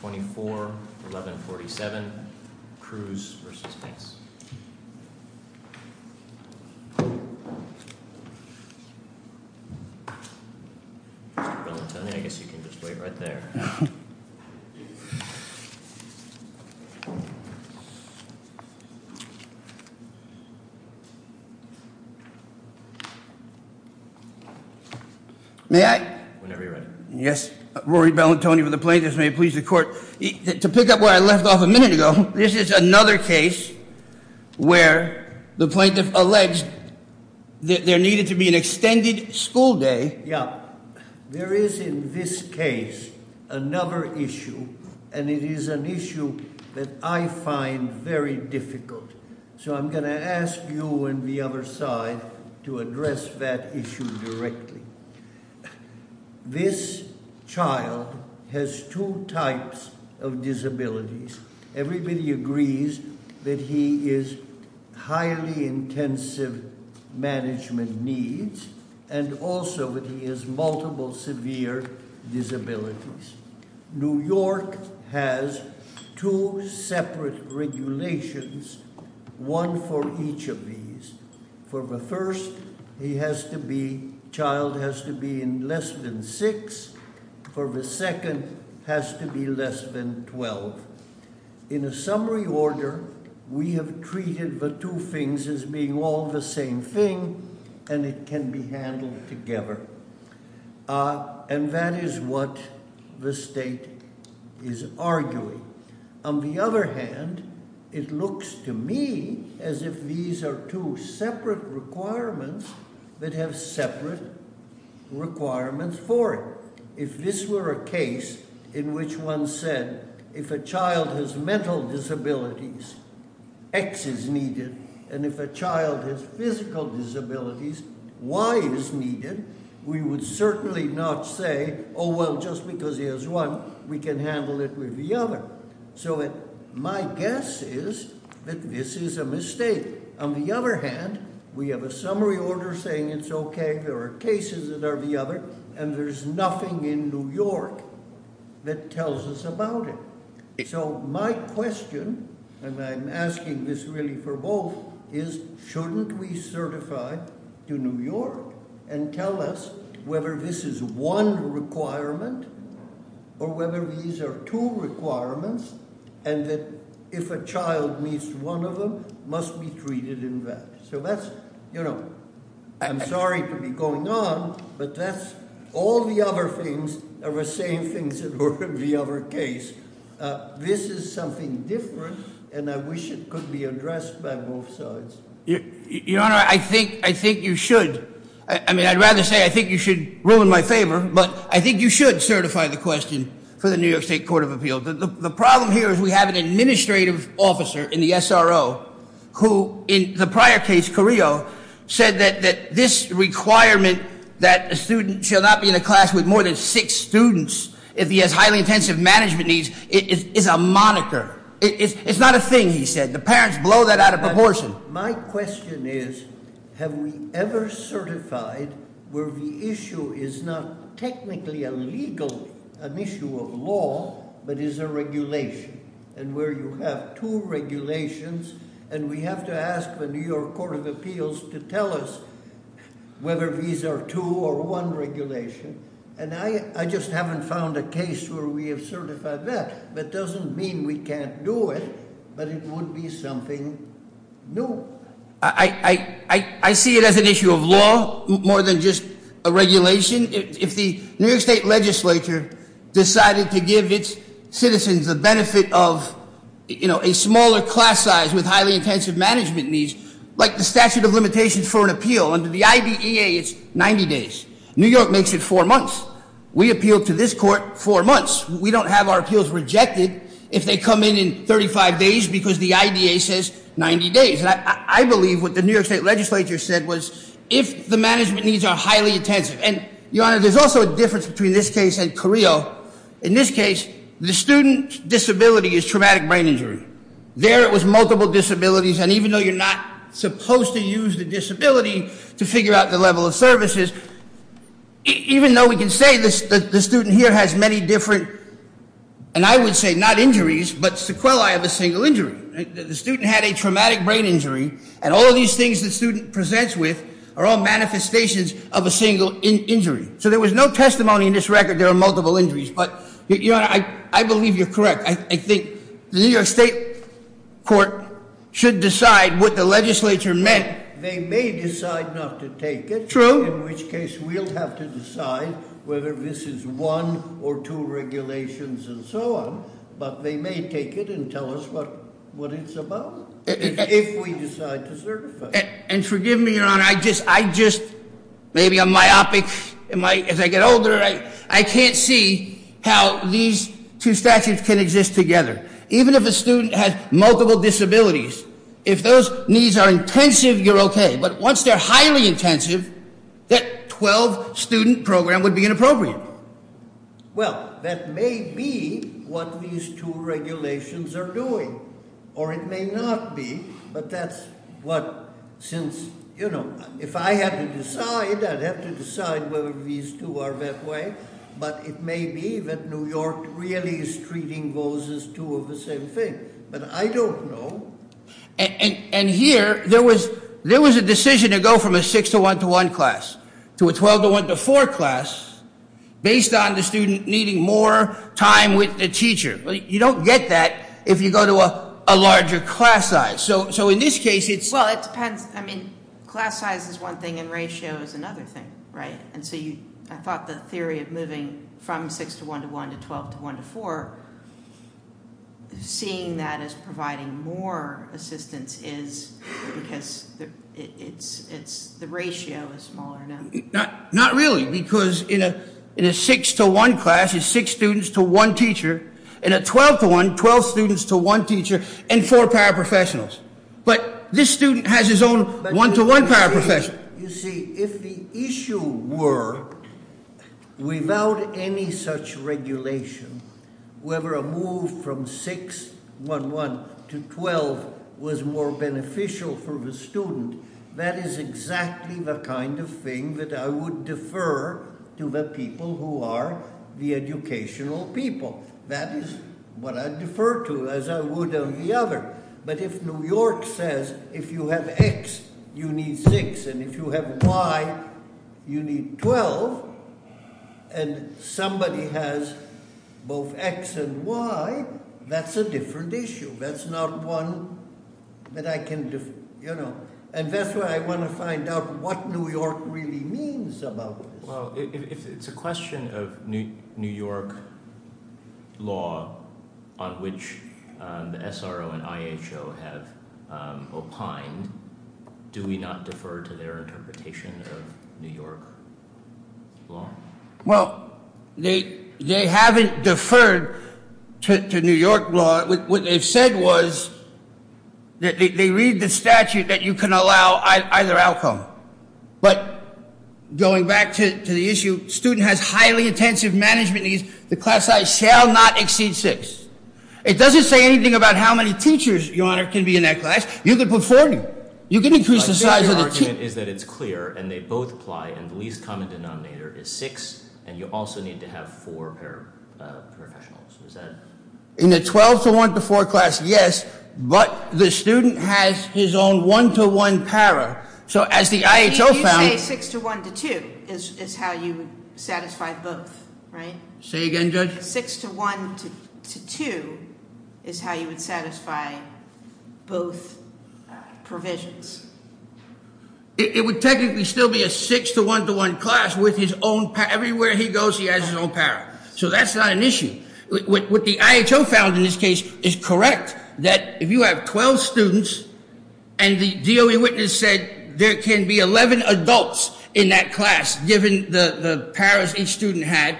24, 1147 Cruz v. Banks. Mr. Bellantoni, I guess you can just wait right there. May I? Whenever you're ready. Yes. Rory Bellantoni for the plaintiffs. May it please the court. To pick up where I left off a minute ago, this is another case where the plaintiff alleged that there needed to be an extended school day. There is in this case another issue, and it is an issue that I find very difficult. So I'm going to ask you and the other side to address that issue directly. This child has two types of disabilities. Everybody agrees that he is highly intensive management needs, and also that he has multiple severe disabilities. New York has two separate regulations, one for each of these. For the first, the child has to be in less than six. For the second, has to be less than 12. In a summary order, we have treated the two things as being all the same thing, and it can be handled together. And that is what the state is arguing. On the other hand, it looks to me as if these are two separate requirements that have separate requirements for it. If this were a case in which one said, if a child has mental disabilities, X is needed. And if a child has physical disabilities, Y is needed. We would certainly not say, oh, well, just because he has one, we can handle it with the other. So my guess is that this is a mistake. On the other hand, we have a summary order saying it's okay. There are cases that are the other, and there's nothing in New York that tells us about it. So my question, and I'm asking this really for both, is shouldn't we certify to New York and tell us whether this is one requirement or whether these are two requirements? And that if a child meets one of them, must be treated in that. So that's, I'm sorry to be going on, but that's all the other things are the same things that were in the other case. This is something different, and I wish it could be addressed by both sides. Your Honor, I think you should. I mean, I'd rather say I think you should rule in my favor, but I think you should certify the question for the New York State Court of Appeals. The problem here is we have an administrative officer in the SRO who, in the prior case, Carrillo, said that this requirement that a student shall not be in a class with more than six students if he has highly intensive management needs is a moniker. It's not a thing, he said. The parents blow that out of proportion. My question is, have we ever certified where the issue is not technically a legal, an issue of law, but is a regulation? And where you have two regulations, and we have to ask the New York Court of Appeals to tell us whether these are two or one regulation, and I just haven't found a case where we have certified that. That doesn't mean we can't do it, but it would be something new. I see it as an issue of law more than just a regulation. If the New York State Legislature decided to give its citizens the benefit of a smaller class size with highly intensive management needs, like the statute of limitations for an appeal. Under the IDEA, it's 90 days. New York makes it four months. We appealed to this court four months. We don't have our appeals rejected if they come in in 35 days because the IDEA says 90 days. And I believe what the New York State Legislature said was if the management needs are highly intensive. And Your Honor, there's also a difference between this case and Carrillo. In this case, the student's disability is traumatic brain injury. There it was multiple disabilities, and even though you're not supposed to use the disability to figure out the level of services, even though we can say the student here has many different, and I would say not injuries, but sequelae of a single injury. The student had a traumatic brain injury, and all these things the student presents with are all manifestations of a single injury. So there was no testimony in this record, there are multiple injuries. But Your Honor, I believe you're correct. I think the New York State Court should decide what the legislature meant. They may decide not to take it. True. In which case, we'll have to decide whether this is one or two regulations and so on. But they may take it and tell us what it's about, if we decide to certify it. And forgive me, Your Honor, I just, maybe I'm myopic. As I get older, I can't see how these two statutes can exist together. Even if a student has multiple disabilities, if those needs are intensive, you're okay. But once they're highly intensive, that 12 student program would be inappropriate. Well, that may be what these two regulations are doing, or it may not be. But that's what, since, if I had to decide, I'd have to decide whether these two are that way. But it may be that New York really is treating those as two of the same thing. But I don't know. And here, there was a decision to go from a 6 to 1 to 1 class to a 12 to 1 to 4 class, based on the student needing more time with the teacher. You don't get that if you go to a larger class size. So in this case, it's- Well, it depends. I mean, class size is one thing and ratio is another thing, right? And so I thought the theory of moving from 6 to 1 to 1 to 12 to 1 to 4, seeing that as providing more assistance is because the ratio is smaller now. Not really, because in a 6 to 1 class is 6 students to 1 teacher, and a 12 to 1, 12 students to 1 teacher, and 4 paraprofessionals. But this student has his own 1 to 1 paraprofessional. You see, if the issue were, without any such regulation, whether a move from 6, 1, 1 to 12 was more beneficial for the student, that is exactly the kind of thing that I would defer to the people who are the educational people. That is what I'd defer to, as I would on the other. But if New York says, if you have X, you need 6, and if you have Y, you need 12, and somebody has both X and Y, that's a different issue. That's not one that I can, you know. And that's why I want to find out what New York really means about this. Well, if it's a question of New York law on which the SRO and IHO have opined, do we not defer to their interpretation of New York law? Well, they haven't deferred to New York law. What they've said was that they read the statute that you can allow either outcome. But going back to the issue, student has highly intensive management needs. The class size shall not exceed 6. It doesn't say anything about how many teachers, Your Honor, can be in that class. You can put 40. You can increase the size of the team. My favorite argument is that it's clear, and they both apply, and the least common denominator is 6, and you also need to have four paraprofessionals. Is that- In the 12 to 1 to 4 class, yes, but the student has his own one-to-one para. So as the IHO found- You say 6 to 1 to 2 is how you would satisfy both, right? Say again, Judge? 6 to 1 to 2 is how you would satisfy both provisions. It would technically still be a 6 to 1 to 1 class with his own para. Everywhere he goes, he has his own para. So that's not an issue. What the IHO found in this case is correct, that if you have 12 students, and the DOE witness said there can be 11 adults in that class given the paras each student had,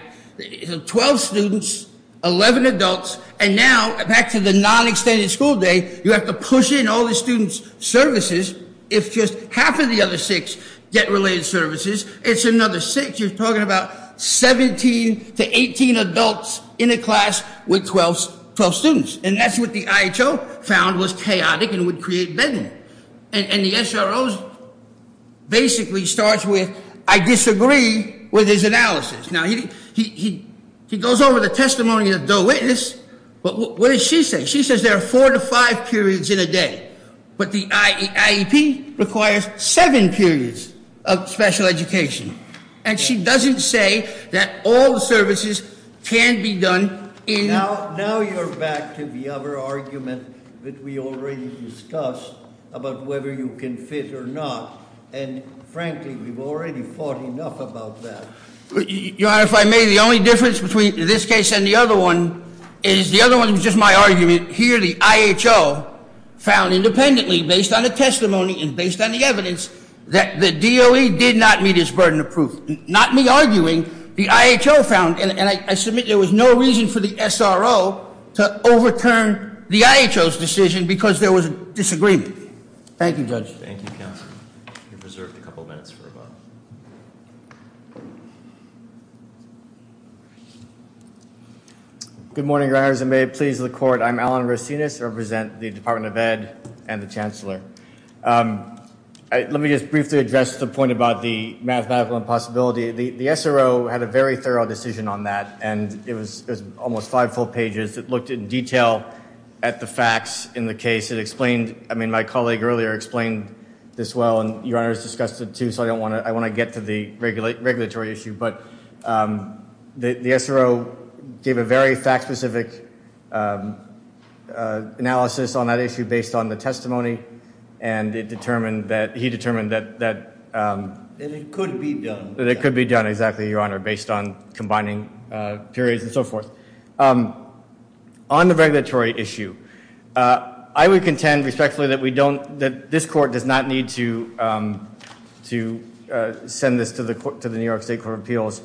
12 students, 11 adults, and now back to the non-extended school day, you have to push in all the students' services if just half of the other six get related services. It's another six. You're talking about 17 to 18 adults in a class with 12 students, and that's what the IHO found was chaotic and would create bedding. And the SRO basically starts with, I disagree with his analysis. Now, he goes over the testimony of the DOE witness, but what does she say? She says there are four to five periods in a day, but the IEP requires seven periods of special education, and she doesn't say that all services can be done in- Now you're back to the other argument that we already discussed about whether you can fit or not, and frankly, we've already fought enough about that. Your Honor, if I may, the only difference between this case and the other one is the other one was just my argument. Here the IHO found independently, based on the testimony and based on the evidence, that the DOE did not meet its burden of proof. Not me arguing. The IHO found, and I submit there was no reason for the SRO to overturn the IHO's decision because there was a disagreement. Thank you, Judge. Thank you, Counsel. You're reserved a couple minutes for a vote. Good morning, Your Honor. Members, may it please the Court, I'm Alan Rosinas. I represent the Department of Ed and the Chancellor. Let me just briefly address the point about the mathematical impossibility. The SRO had a very thorough decision on that, and it was almost five full pages. It looked in detail at the facts in the case. It explained-I mean, my colleague earlier explained this well, and Your Honor has discussed it too, so I don't want to-I want to get to the regulatory issue, but the SRO gave a very fact-specific analysis on that issue based on the testimony, and it determined that-he determined that- That it could be done. That it could be done, exactly, Your Honor, based on combining periods and so forth. On the regulatory issue, I would contend respectfully that we don't-that this Court does not need to send this to the New York State Court of Appeals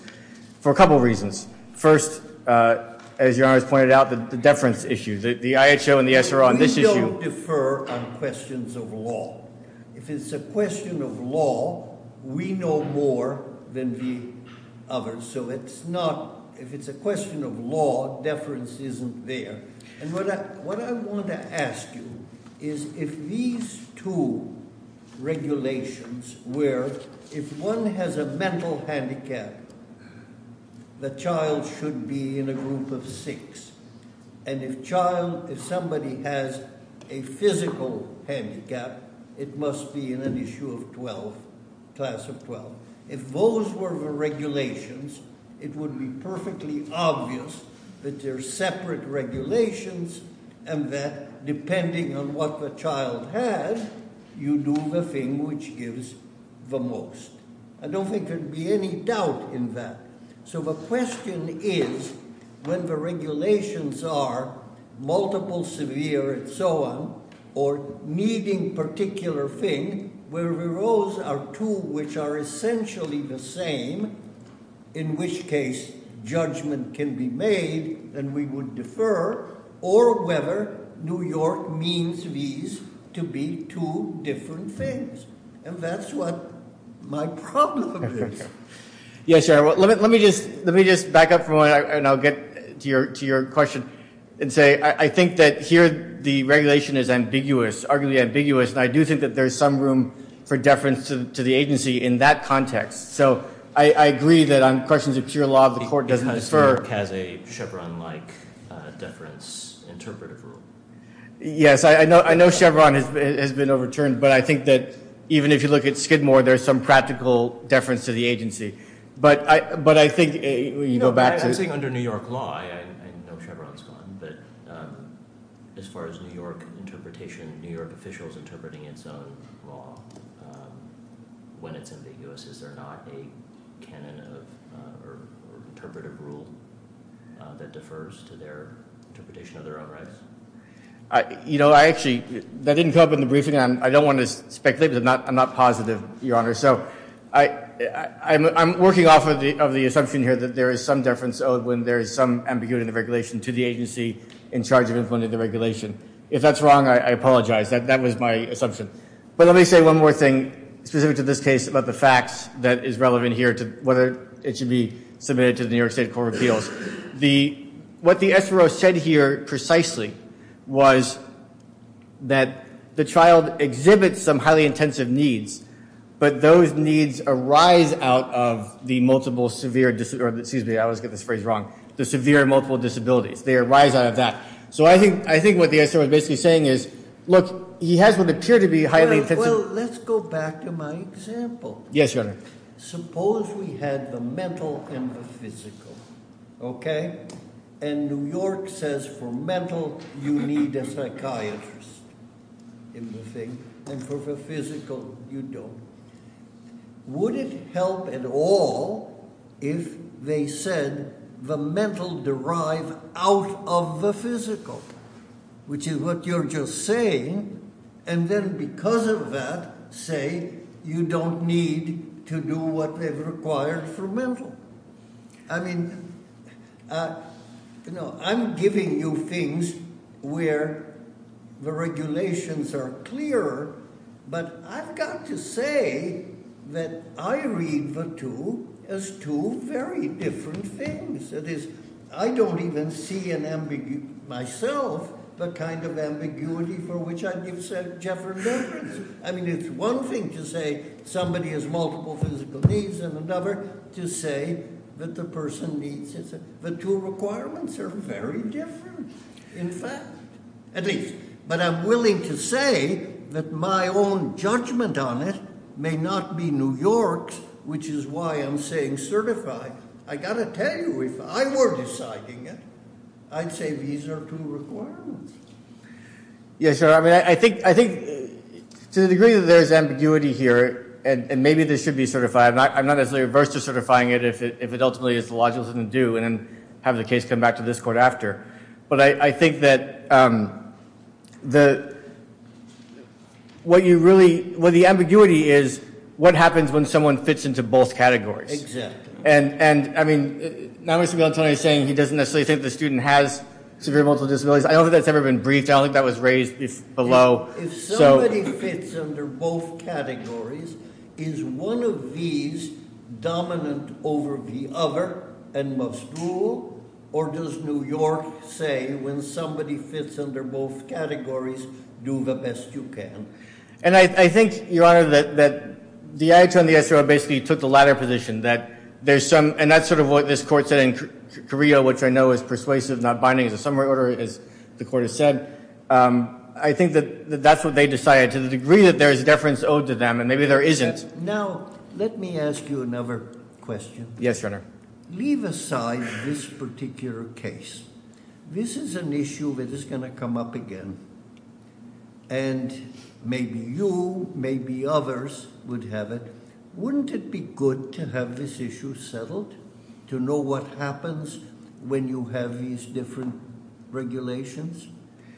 for a couple reasons. First, as Your Honor has pointed out, the deference issue. The IHO and the SRO on this issue- We don't defer on questions of law. If it's a question of law, we know more than the others. So it's not-if it's a question of law, deference isn't there. And what I want to ask you is if these two regulations were-if one has a mental handicap, the child should be in a group of six. And if child-if somebody has a physical handicap, it must be in an issue of 12, class of 12. If those were the regulations, it would be perfectly obvious that they're separate regulations, and that depending on what the child has, you do the thing which gives the most. I don't think there'd be any doubt in that. So the question is, when the regulations are multiple severe and so on, or needing particular thing, where the roles are two which are essentially the same, in which case judgment can be made and we would defer, or whether New York means these to be two different things. And that's what my problem is. Yes, sir. Let me just back up for a moment, and I'll get to your question and say I think that here the regulation is ambiguous, arguably ambiguous, and I do think that there's some room for deference to the agency in that context. So I agree that on questions of pure law, the court doesn't defer. New York has a Chevron-like deference interpretive rule. Yes. I know Chevron has been overturned, but I think that even if you look at Skidmore, there's some practical deference to the agency. But I think when you go back to- I'm saying under New York law, I know Chevron's gone, but as far as New York interpretation, New York officials interpreting its own law when it's ambiguous, is there not a canon or interpretive rule that defers to their interpretation of their own rights? You know, I actually- that didn't come up in the briefing. I don't want to speculate, but I'm not positive, Your Honor. So I'm working off of the assumption here that there is some deference owed when there is some ambiguity in the regulation to the agency in charge of implementing the regulation. If that's wrong, I apologize. That was my assumption. But let me say one more thing specific to this case about the facts that is relevant here to whether it should be submitted to the New York State Court of Appeals. What the SRO said here precisely was that the child exhibits some highly intensive needs, but those needs arise out of the multiple severe- excuse me, I always get this phrase wrong- the severe multiple disabilities. They arise out of that. So I think what the SRO is basically saying is, look, he has what appear to be highly intensive- Well, let's go back to my example. Yes, Your Honor. Suppose we had the mental and the physical, okay? And New York says for mental, you need a psychiatrist in the thing, and for the physical, you don't. Would it help at all if they said the mental derived out of the physical, which is what you're just saying, and then because of that say you don't need to do what they've required for mental? I mean, you know, I'm giving you things where the regulations are clearer, but I've got to say that I read the two as two very different things. That is, I don't even see in myself the kind of ambiguity for which I give Jeffrey reference. I mean, it's one thing to say somebody has multiple physical needs, and another to say that the person needs- the two requirements are very different, in fact, at least. But I'm willing to say that my own judgment on it may not be New York's, which is why I'm saying certified. I've got to tell you, if I were deciding it, I'd say these are two requirements. Yes, Your Honor, I mean, I think to the degree that there's ambiguity here, and maybe this should be certified, I'm not necessarily averse to certifying it if it ultimately is the logical thing to do and then have the case come back to this court after. But I think that the- what you really- well, the ambiguity is what happens when someone fits into both categories. Exactly. And, I mean, now Mr. Bill Antonio is saying he doesn't necessarily think the student has severe multiple disabilities. I don't think that's ever been briefed. I don't think that was raised below. If somebody fits under both categories, is one of these dominant over the other and must rule, or does New York say when somebody fits under both categories, do the best you can? And I think, Your Honor, that the IHR and the SRO basically took the latter position, that there's some- and that's sort of what this court said in Carrillo, which I know is persuasive, not binding as a summary order, as the court has said. I think that that's what they decided, to the degree that there is deference owed to them, and maybe there isn't. Now, let me ask you another question. Yes, Your Honor. Leave aside this particular case. This is an issue that is going to come up again, and maybe you, maybe others would have it. Wouldn't it be good to have this issue settled, to know what happens when you have these different regulations?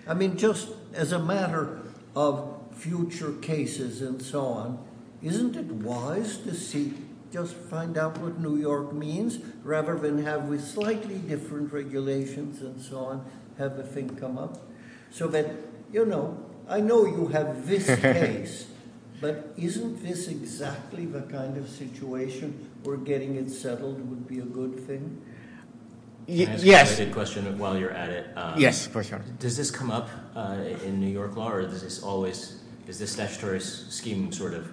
I mean, just as a matter of future cases and so on, isn't it wise to see, just find out what New York means, rather than have with slightly different regulations and so on, have the thing come up? So that, you know, I know you have this case, but isn't this exactly the kind of situation where getting it settled would be a good thing? Can I ask you a question while you're at it? Yes, of course, Your Honor. Does this come up in New York law, or is this always, is this statutory scheme sort of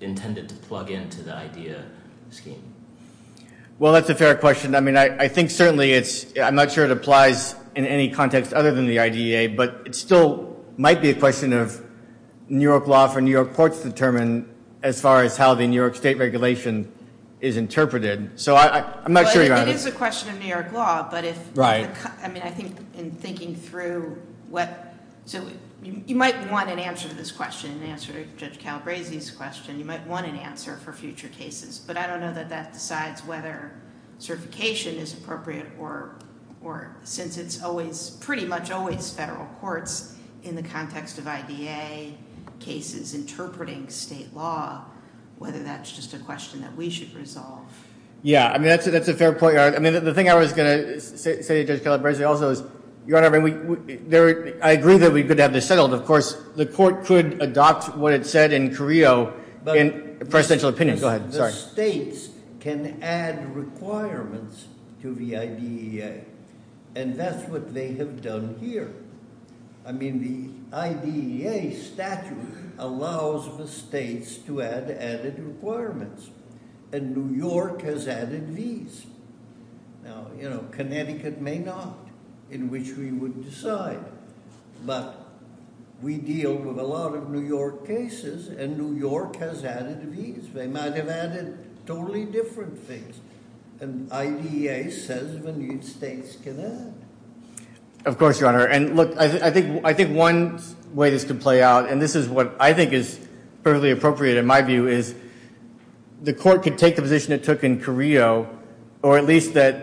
intended to plug into the IDEA scheme? Well, that's a fair question. I mean, I think certainly it's, I'm not sure it applies in any context other than the IDEA, but it still might be a question of New York law for New York courts to determine as far as how the New York state regulation is interpreted. So I'm not sure, Your Honor. It is a question of New York law, but if, I mean, I think in thinking through what, so you might want an answer to this question, an answer to Judge Calabresi's question. You might want an answer for future cases. But I don't know that that decides whether certification is appropriate or, since it's always, pretty much always federal courts in the context of IDEA cases interpreting state law, whether that's just a question that we should resolve. Yeah, I mean, that's a fair point, Your Honor. I mean, the thing I was going to say to Judge Calabresi also is, Your Honor, I agree that we could have this settled. Of course, the court could adopt what it said in Carrillo in presidential opinion. Go ahead. Sorry. The states can add requirements to the IDEA, and that's what they have done here. I mean, the IDEA statute allows the states to add added requirements, and New York has added these. Now, you know, Connecticut may not, in which we would decide, but we deal with a lot of New York cases, and New York has added these. They might have added totally different things, and IDEA says the states can add. Of course, Your Honor. And, look, I think one way this could play out, and this is what I think is perfectly appropriate in my view, is the court could take the position it took in Carrillo, or at least that,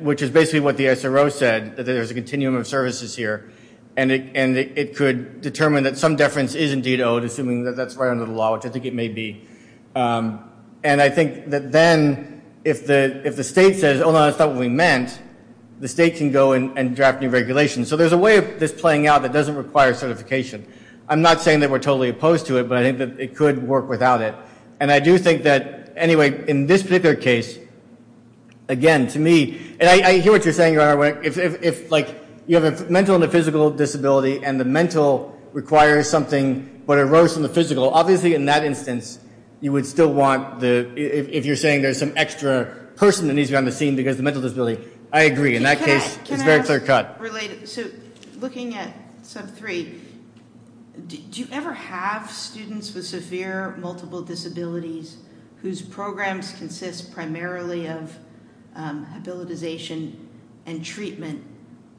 which is basically what the SRO said, that there's a continuum of services here, and it could determine that some deference is indeed owed, assuming that that's right under the law, which I think it may be. And I think that then, if the state says, oh, no, that's not what we meant, the state can go and draft new regulations. So there's a way of this playing out that doesn't require certification. I'm not saying that we're totally opposed to it, but I think that it could work without it. And I do think that, anyway, in this particular case, again, to me, and I hear what you're saying, Your Honor. If, like, you have a mental and a physical disability, and the mental requires something, but it arose from the physical, obviously, in that instance, you would still want the, if you're saying there's some extra person that needs to be on the scene because of the mental disability, I agree. In that case, it's a very clear cut. Can I ask, related, so looking at Sub 3, do you ever have students with severe multiple disabilities whose programs consist primarily of habilitization and treatment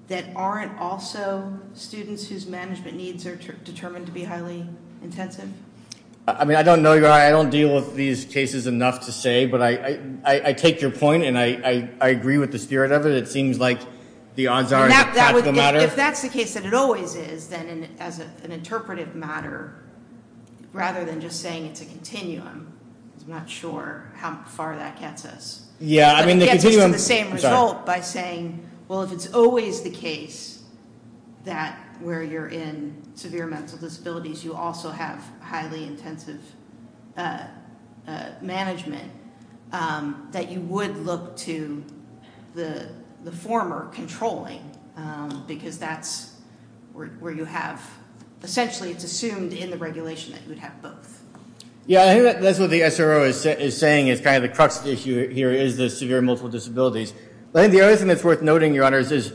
that aren't also students whose management needs are determined to be highly intensive? I mean, I don't know, Your Honor, I don't deal with these cases enough to say, but I take your point, and I agree with the spirit of it. It seems like the odds are it's a practical matter. If that's the case that it always is, then as an interpretive matter, rather than just saying it's a continuum, because I'm not sure how far that gets us. It gets us to the same result by saying, well, if it's always the case that where you're in severe mental disabilities, you also have highly intensive management, that you would look to the former controlling, because that's where you have, essentially, it's assumed in the regulation that you would have both. Yeah, I think that's what the SRO is saying is kind of the crux issue here is the severe multiple disabilities. I think the other thing that's worth noting, Your Honor, is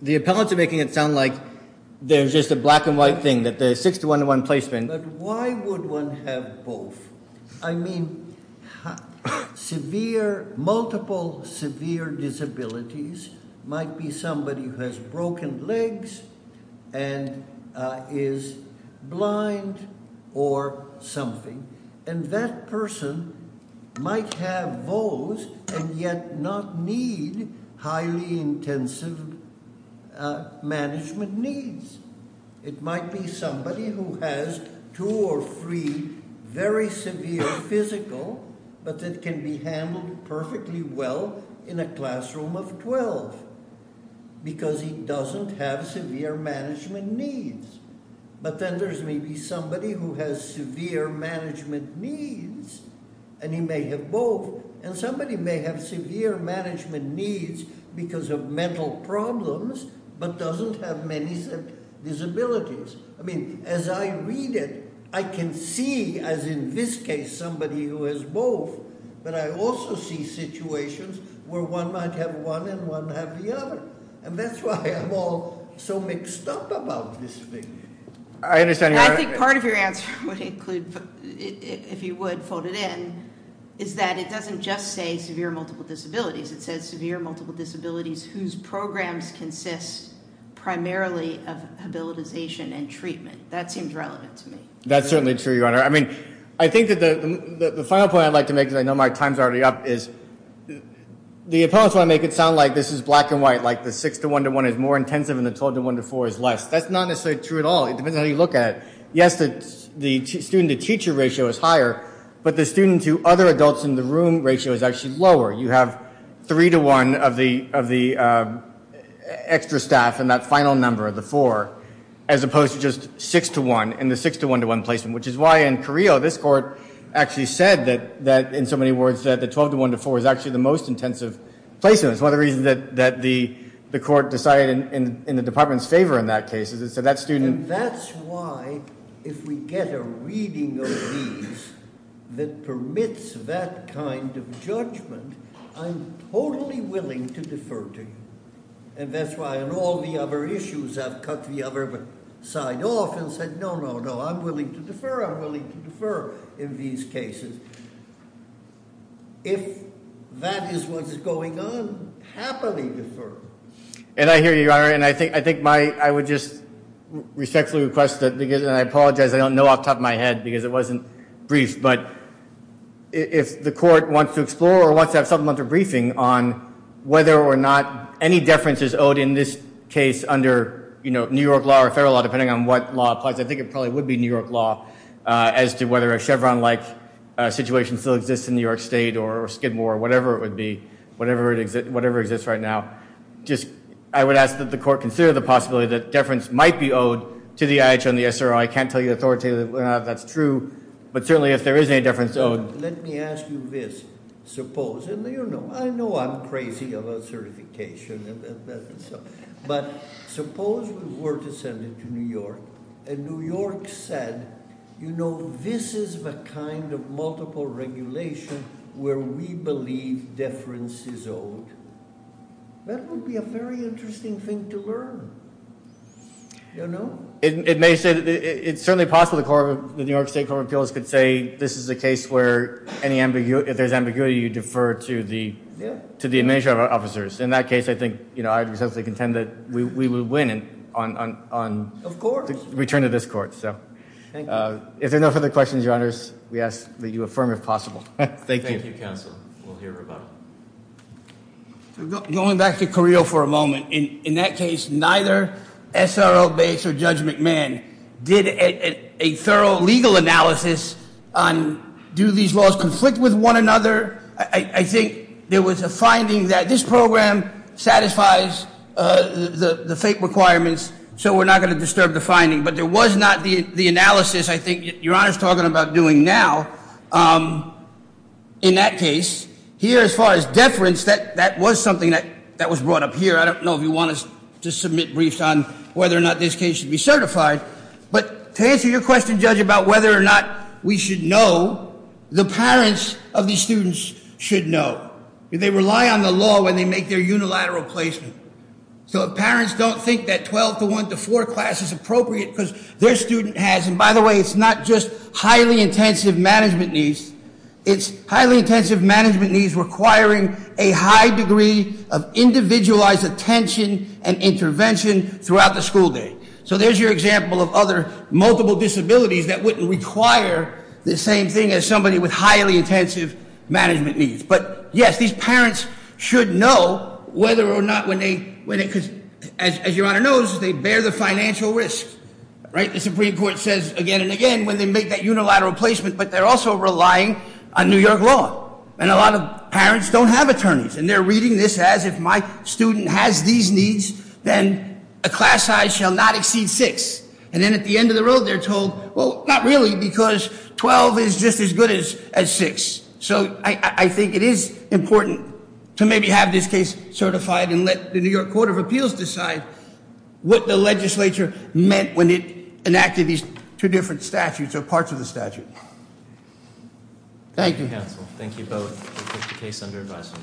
the appellants are making it sound like there's just a black and white thing, that there's six to one to one placement. But why would one have both? I mean, multiple severe disabilities might be somebody who has broken legs and is blind or something, and that person might have both and yet not need highly intensive management needs. It might be somebody who has two or three very severe physical, but that can be handled perfectly well in a classroom of 12, because he doesn't have severe management needs. But then there's maybe somebody who has severe management needs, and he may have both, and somebody may have severe management needs because of mental problems, but doesn't have many disabilities. I mean, as I read it, I can see, as in this case, somebody who has both, but I also see situations where one might have one and one have the other, and that's why I'm all so mixed up about this thing. I think part of your answer would include, if you would, fold it in, is that it doesn't just say severe multiple disabilities. It says severe multiple disabilities whose programs consist primarily of habilitation and treatment. That seems relevant to me. That's certainly true, Your Honor. I mean, I think that the final point I'd like to make, because I know my time's already up, is the opponents want to make it sound like this is black and white, like the six-to-one-to-one is more intensive and the 12-to-one-to-four is less. That's not necessarily true at all. It depends on how you look at it. Yes, the student-to-teacher ratio is higher, but the student-to-other-adults-in-the-room ratio is actually lower. You have three-to-one of the extra staff in that final number, the four, as opposed to just six-to-one in the six-to-one-to-one placement, which is why in Carrillo this court actually said that, in so many words, that the 12-to-one-to-four is actually the most intensive placement. It's one of the reasons that the court decided in the department's favor in that case. And that's why, if we get a reading of these that permits that kind of judgment, I'm totally willing to defer to you. And that's why on all the other issues I've cut the other side off and said, no, no, no, I'm willing to defer, I'm willing to defer in these cases. If that is what is going on, happily defer. And I hear you, Your Honor, and I would just respectfully request that, and I apologize, I don't know off the top of my head because it wasn't briefed, but if the court wants to explore or wants to have something under briefing on whether or not any deference is owed in this case under New York law or federal law, depending on what law applies, I think it probably would be New York law, as to whether a Chevron-like situation still exists in New York State or Skidmore or whatever it would be, whatever exists right now. I would ask that the court consider the possibility that deference might be owed to the IHO and the SRO. I can't tell you authoritatively whether or not that's true, but certainly if there is any deference owed. Let me ask you this. I know I'm crazy about certification. But suppose we were to send it to New York and New York said, you know, this is the kind of multiple regulation where we believe deference is owed. That would be a very interesting thing to learn. It's certainly possible the New York State Court of Appeals could say this is a case where if there's ambiguity, you defer to the administrative officers. In that case, I think I would essentially contend that we would win on the return of this court. If there are no further questions, Your Honors, we ask that you affirm if possible. Thank you. Going back to Carrillo for a moment. In that case, neither SRO base or Judge McMahon did a thorough legal analysis on do these laws conflict with one another. I think there was a finding that this program satisfies the FAPE requirements, so we're not going to disturb the finding. But there was not the analysis I think Your Honor is talking about doing now in that case. Here, as far as deference, that was something that was brought up here. I don't know if you want us to submit briefs on whether or not this case should be certified. But to answer your question, Judge, about whether or not we should know, the parents of these students should know. They rely on the law when they make their unilateral placement. So parents don't think that 12 to 1 to 4 class is appropriate because their student has, and by the way, it's not just highly intensive management needs. It's highly intensive management needs requiring a high degree of individualized attention and intervention throughout the school day. So there's your example of other multiple disabilities that wouldn't require the same thing as somebody with highly intensive management needs. But yes, these parents should know whether or not when they, because as Your Honor knows, they bear the financial risk. The Supreme Court says again and again when they make that unilateral placement, but they're also relying on New York law. And a lot of parents don't have attorneys. And they're reading this as if my student has these needs, then a class size shall not exceed six. And then at the end of the road, they're told, well, not really, because 12 is just as good as six. So I think it is important to maybe have this case certified and let the New York Court of Appeals decide what the legislature meant when it enacted these two different statutes or parts of the statute. Thank you. Thank you, counsel. Thank you both. We'll take the case under advisory.